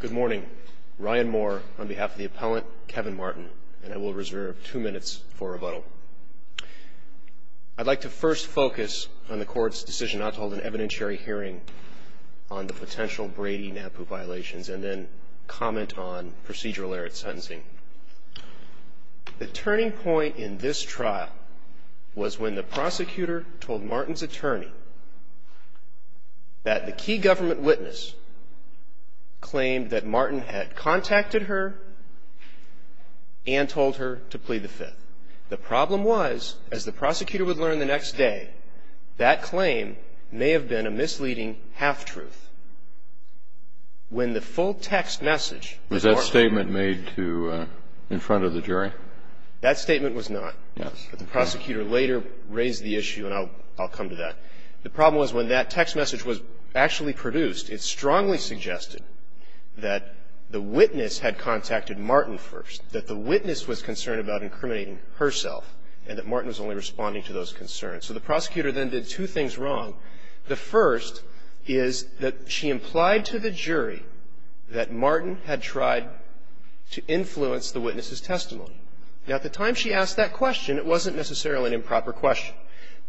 Good morning. Ryan Moore on behalf of the appellant, Kevin Martin, and I will reserve two minutes for rebuttal. I'd like to first focus on the court's decision not to hold an evidentiary hearing on the potential Brady-Napoo violations, and then comment on procedural error at sentencing. The turning point in this trial was when the prosecutor told Martin's attorney that the key government witness claimed that Martin had contacted her and told her to plead the Fifth. The problem was, as the prosecutor would learn the next day, that claim may have been a misleading half-truth. When the full-text message that Martin ---- Was that statement made to ---- in front of the jury? That statement was not. Yes. But the prosecutor later raised the issue, and I'll come to that. The problem was, when that text message was actually produced, it strongly suggested that the witness had contacted Martin first, that the witness was concerned about incriminating herself, and that Martin was only responding to those concerns. So the prosecutor then did two things wrong. The first is that she implied to the jury that Martin had tried to influence the witness's testimony. Now, at the time she asked that question, it wasn't necessarily an improper question.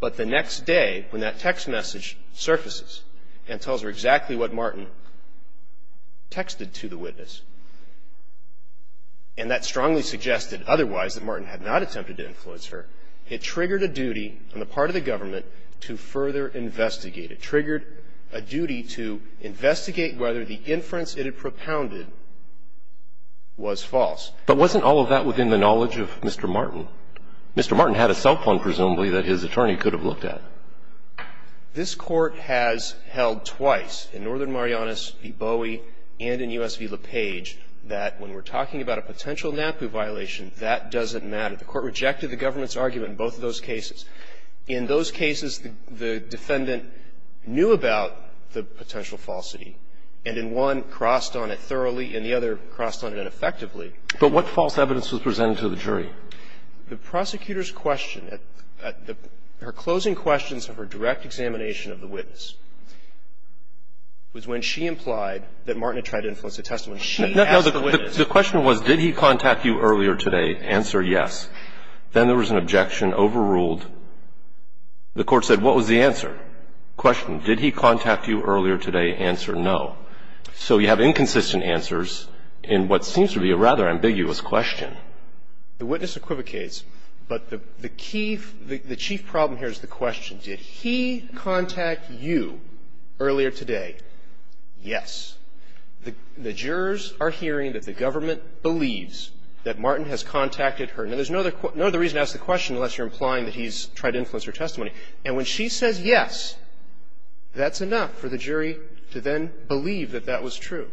But the next day, when that text message surfaces and tells her exactly what Martin texted to the witness, and that strongly suggested otherwise, that Martin had not attempted to influence her, it triggered a duty on the part of the government to further investigate. It triggered a duty to investigate whether the inference it had propounded was false. But wasn't all of that within the knowledge of Mr. Martin? Mr. Martin had a cell phone, presumably, that his attorney could have looked at. This Court has held twice, in Northern Marianas v. Bowie and in U.S. v. LePage, that when we're talking about a potential NAPU violation, that doesn't matter. The Court rejected the government's argument in both of those cases. In those cases, the defendant knew about the potential falsity, and in one, crossed on it thoroughly, and the other crossed on it ineffectively. But what false evidence was presented to the jury? The prosecutor's question at the – her closing questions of her direct examination of the witness was when she implied that Martin had tried to influence the testimony. When she asked the witness. The question was, did he contact you earlier today? Answer, yes. Then there was an objection overruled. The Court said, what was the answer? Question, did he contact you earlier today? Answer, no. So you have inconsistent answers in what seems to be a rather ambiguous question. The witness equivocates, but the key – the chief problem here is the question. Did he contact you earlier today? Yes. The jurors are hearing that the government believes that Martin has contacted her. Now, there's no other reason to ask the question unless you're implying that he's tried to influence her testimony. And when she says yes, that's enough for the jury to then believe that that was true.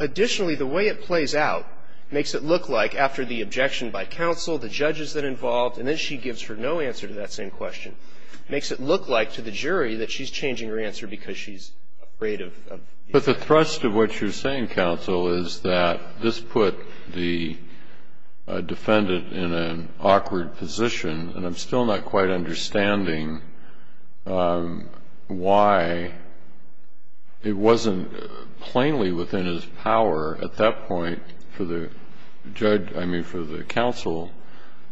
Additionally, the way it plays out makes it look like after the objection by counsel, the judges that are involved, and then she gives her no answer to that same question, makes it look like to the jury that she's changing her answer because she's afraid of – But the thrust of what you're saying, counsel, is that this put the defendant in an awkward position, and I'm still not quite understanding why it wasn't plainly within his power at that point for the judge – I mean, for the counsel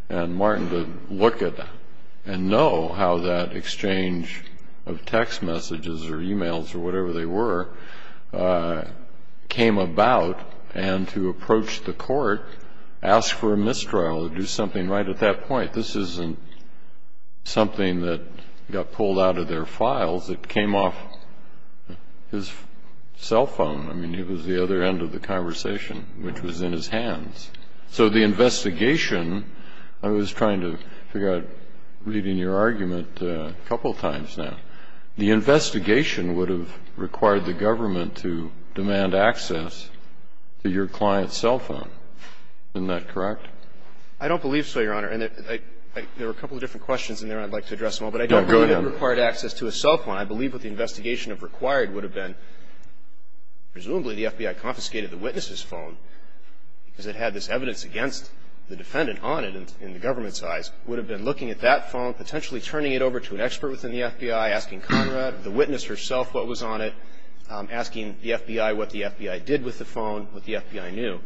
and Martin to look at and know how that exchange of text messages or emails or whatever they were came about and to approach the court, ask for a mistrial, do something right at that point. This isn't something that got pulled out of their files. It came off his cell phone. I mean, it was the other end of the conversation, which was in his hands. So the investigation – I was trying to figure out, reading your argument a couple times now – the investigation would have required the government to demand access to your client's cell phone. Isn't that correct? I don't believe so, Your Honor. And there were a couple of different questions in there I'd like to address, but I don't believe it required access to a cell phone. I believe what the investigation required would have been, presumably, the FBI confiscated the witness's phone because it had this evidence against the defendant on it in the government's eyes, would have been looking at that phone, potentially turning it over to an expert within the FBI, asking Conrad, the witness herself what was on it, asking the FBI what the FBI did with the phone, what the FBI knew.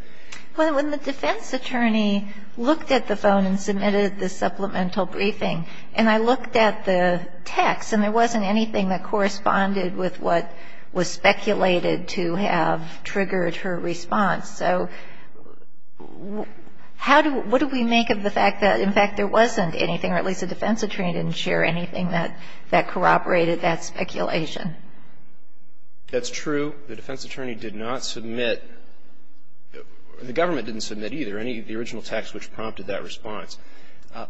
Well, when the defense attorney looked at the phone and submitted the supplemental briefing and I looked at the text and there wasn't anything that corresponded with what was speculated to have triggered her response. So how do – what do we make of the fact that, in fact, there wasn't anything or at least the defense attorney didn't share anything that corroborated that speculation? That's true. The defense attorney did not submit – the government didn't submit either any of the original text which prompted that response.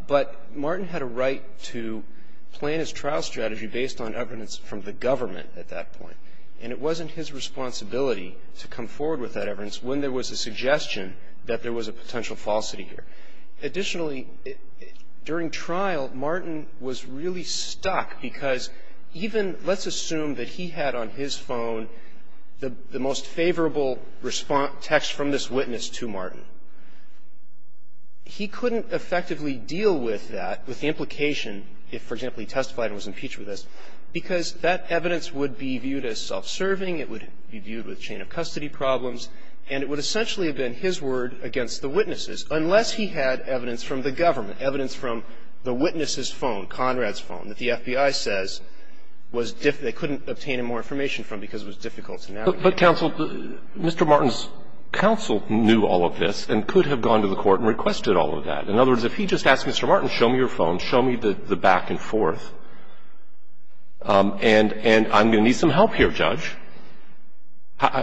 But Martin had a right to plan his trial strategy based on evidence from the government at that point. And it wasn't his responsibility to come forward with that evidence when there was a suggestion that there was a potential falsity here. Additionally, during trial, Martin was really stuck because even – let's assume that he had on his phone the most favorable response – text from this witness to Martin. He couldn't effectively deal with that, with the implication if, for example, he testified and was impeached with this, because that evidence would be viewed as self-serving. It would be viewed with chain of custody problems. And it would essentially have been his word against the witnesses, unless he had evidence from the government, evidence from the witness's phone, Conrad's phone, that the FBI says was – they couldn't obtain more information from because it was difficult to navigate. But, counsel, Mr. Martin's counsel knew all of this and could have gone to the court and requested all of that. In other words, if he just asked Mr. Martin, show me your phone, show me the back and forth, and I'm going to need some help here, Judge.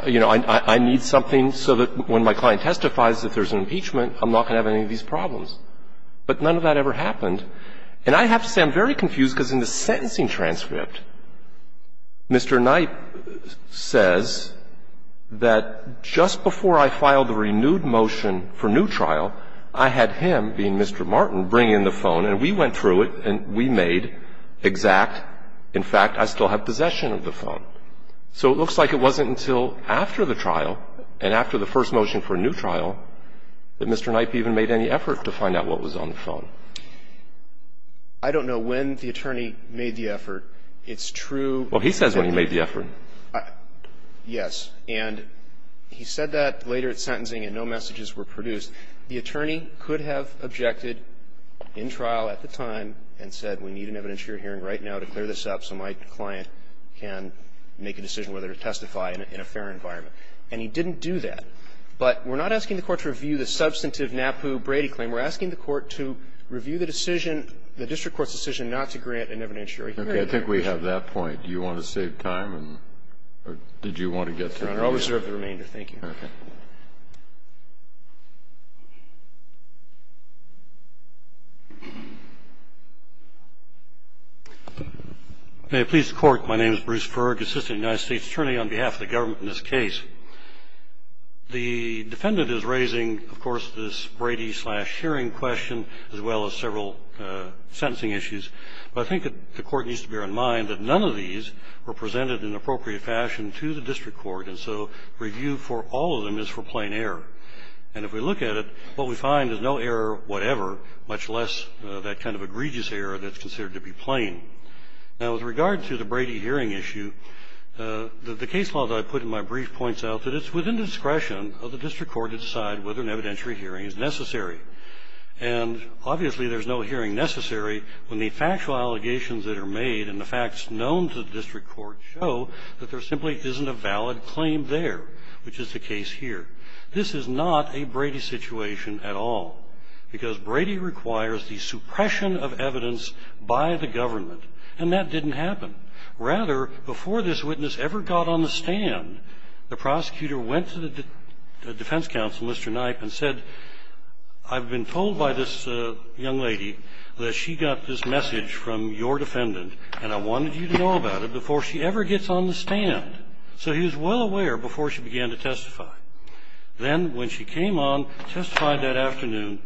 You know, I need something so that when my client testifies that there's an impeachment, I'm not going to have any of these problems. But none of that ever happened. And I have to say I'm very confused because in the sentencing transcript, Mr. Knight says that just before I filed the renewed motion for new trial, I had him, being Mr. Martin, bring in the phone, and we went through it, and we made exact, in fact, I still have possession of the phone. So it looks like it wasn't until after the trial and after the first motion for a new trial that Mr. Knight even made any effort to find out what was on the phone. I don't know when the attorney made the effort. It's true. Well, he says when he made the effort. Yes. And he said that later at sentencing and no messages were produced. The attorney could have objected in trial at the time and said, we need an evidentiary hearing right now to clear this up so my client can make a decision whether to testify in a fair environment. And he didn't do that. But we're not asking the Court to review the substantive NAPU Brady claim. We're asking the Court to review the decision, the district court's decision, not to grant an evidentiary hearing. Okay. I think we have that point. Do you want to save time, or did you want to get through? Your Honor, I'll reserve the remainder. Thank you. Okay. May it please the Court, my name is Bruce Ferg, Assistant United States Attorney on behalf of the government in this case. The defendant is raising, of course, this Brady-slash-hearing question as well as several other sentencing issues. But I think that the Court needs to bear in mind that none of these were presented in an appropriate fashion to the district court, and so review for all of them is for plain error. And if we look at it, what we find is no error whatever, much less that kind of egregious error that's considered to be plain. Now, with regard to the Brady hearing issue, the case law that I put in my brief points out that it's within discretion of the district court to decide whether an evidentiary hearing is necessary. And obviously there's no hearing necessary when the factual allegations that are made and the facts known to the district court show that there simply isn't a valid claim there, which is the case here. This is not a Brady situation at all, because Brady requires the suppression of evidence by the government, and that didn't happen. Rather, before this witness ever got on the stand, the prosecutor went to the defense counsel, Mr. Knipe, and said, I've been told by this young lady that she got this message from your defendant, and I wanted you to know about it before she ever gets on the stand. So he was well aware before she began to testify. Then, when she came on, testified that afternoon,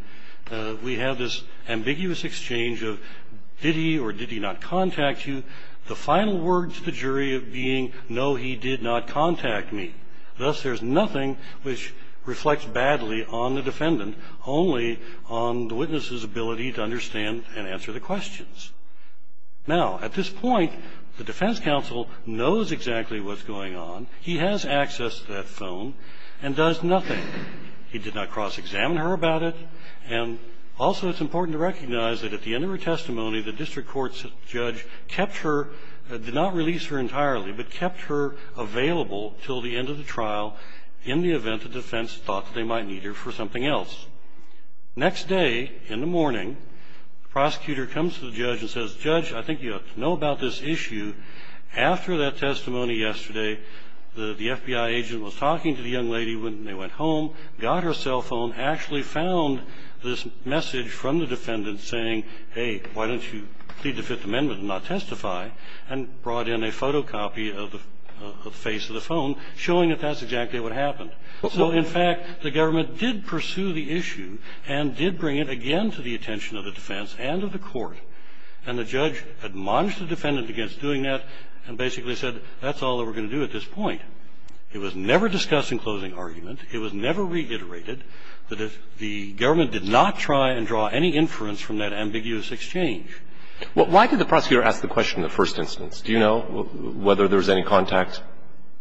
we have this ambiguous exchange of, did he or did he not contact you? The final word to the jury being, no, he did not contact me. Thus, there's nothing which reflects badly on the defendant, only on the witness's ability to understand and answer the questions. Now, at this point, the defense counsel knows exactly what's going on. He has access to that phone and does nothing. He did not cross-examine her about it. And also it's important to recognize that at the end of her testimony, the district court's judge kept her, did not release her entirely, but kept her available until the end of the trial in the event the defense thought they might need her for something else. Next day, in the morning, prosecutor comes to the judge and says, Judge, I think you have to know about this issue. After that testimony yesterday, the FBI agent was talking to the young lady when they went home, got her cell phone, actually found this message from the defendant saying, hey, why don't you plead to Fifth Amendment and not testify, and brought in a photocopy of the face of the phone showing that that's exactly what happened. So in fact, the government did pursue the issue and did bring it again to the attention of the defense and of the court. And the judge admonished the defendant against doing that and basically said, that's all that we're going to do at this point. It was never discussed in closing argument. It was never reiterated. The government did not try and draw any inference from that ambiguous exchange. Well, why did the prosecutor ask the question in the first instance? Do you know whether there was any contact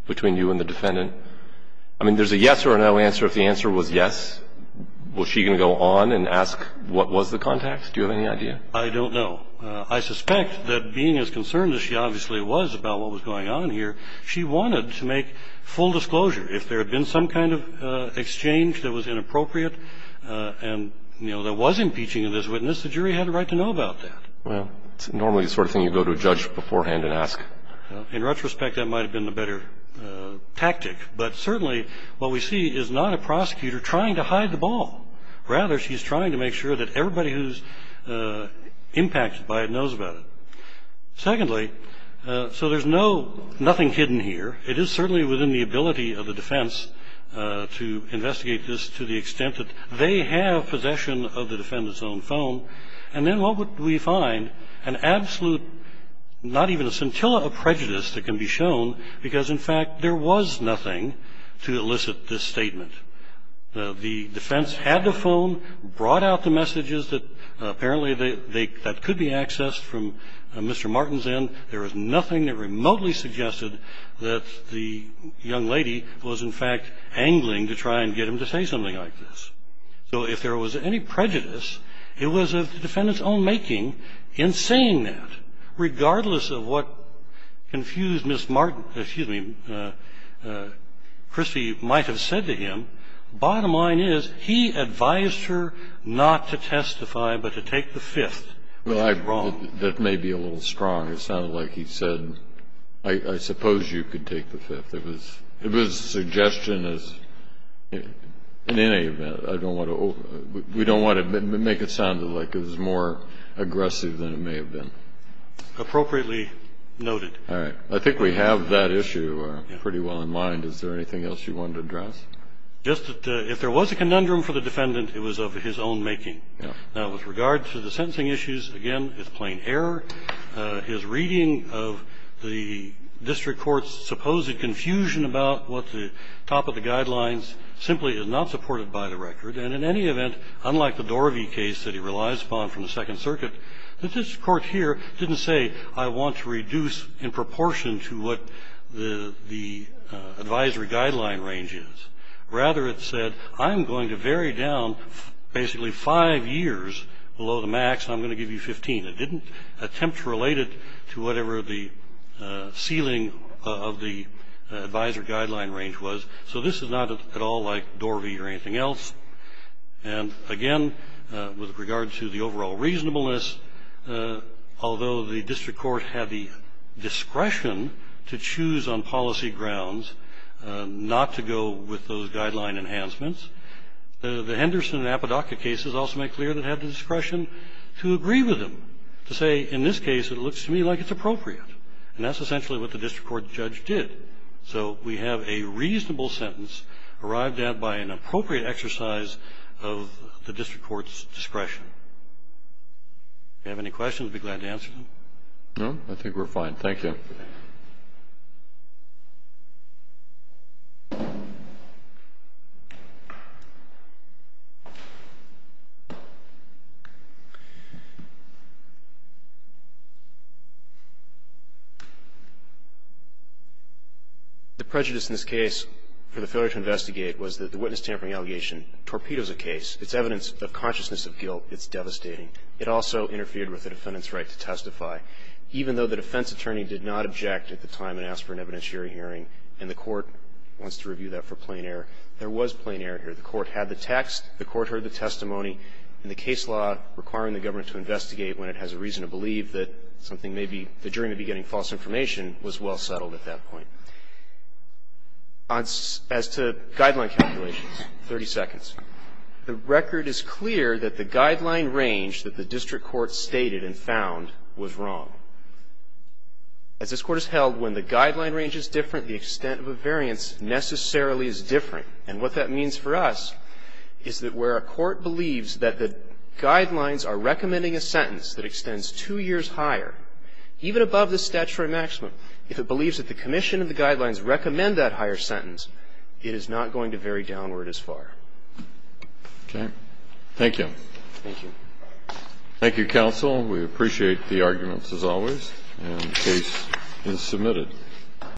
between you and the defendant? I mean, there's a yes or a no answer. If the answer was yes, was she going to go on and ask what was the contact? Do you have any idea? I don't know. I suspect that being as concerned as she obviously was about what was going on here, she wanted to make full disclosure. If there had been some kind of exchange that was inappropriate and, you know, that was impeaching of this witness, the jury had a right to know about that. Well, it's normally the sort of thing you go to a judge beforehand and ask. In retrospect, that might have been a better tactic. But certainly what we see is not a prosecutor trying to hide the ball. Rather, she's trying to make sure that everybody who's impacted by it knows about it. Secondly, so there's no – nothing hidden here. It is certainly within the ability of the defense to investigate this to the extent that they have possession of the defendant's own phone. And then what would we find? An absolute – not even a scintilla of prejudice that can be shown because, in fact, there was nothing to elicit this statement. The defense had the phone, brought out the messages that apparently they – that could be accessed from Mr. Martin's end. And the defendant's own making in saying that, regardless of what confused Ms. Martin – excuse me, Christie might have said to him, bottom line is, he advised her not to testify but to take the fifth. That's wrong. Well, I – that may be a little strong. It sounded like he said, I suppose you could take the fifth. It was a suggestion as – in any event, I don't want to – we don't want to make it sound like it was more aggressive than it may have been. Appropriately noted. All right. I think we have that issue pretty well in mind. Is there anything else you wanted to address? Just that if there was a conundrum for the defendant, it was of his own making. Yeah. Now, with regard to the sentencing issues, again, it's plain error. His reading of the district court's supposed confusion about what the top of the guidelines simply is not supported by the record. And in any event, unlike the Dorovey case that he relies upon from the Second Circuit, this court here didn't say, I want to reduce in proportion to what the advisory guideline range is. Rather, it said, I'm going to vary down basically five years below the max, and I'm going to give you 15. It didn't attempt to relate it to whatever the ceiling of the advisory guideline range was. So this is not at all like Dorovey or anything else. And, again, with regard to the overall reasonableness, although the district court had the discretion to choose on policy grounds not to go with those guideline enhancements, the Henderson and Apodaca cases also make clear they had the discretion to agree with them, to say, in this case, it looks to me like it's appropriate. And that's essentially what the district court judge did. So we have a reasonable sentence arrived at by an appropriate exercise of the district court's discretion. If you have any questions, I'd be glad to answer them. No? I think we're fine. Thank you. Thank you. The prejudice in this case for the failure to investigate was that the witness tampering allegation torpedoes a case. It's evidence of consciousness of guilt. It's devastating. It also interfered with the defendant's right to testify. Even though the defense attorney did not object at the time and ask for an evidentiary hearing and the court wants to review that for plain error, there was plain error here. The court had the text. The court heard the testimony. And the case law requiring the government to investigate when it has a reason to believe that something may be the jury may be getting false information was well settled at that point. As to guideline calculations, 30 seconds. The record is clear that the guideline range that the district court stated and found was wrong. As this court has held, when the guideline range is different, the extent of a variance necessarily is different. And what that means for us is that where a court believes that the guidelines are recommending a sentence that extends two years higher, even above the statutory maximum, if it believes that the commission and the guidelines recommend that higher sentence, it is not going to vary downward as far. Okay. Thank you. Thank you. Thank you, counsel. We appreciate the arguments as always. And the case is submitted.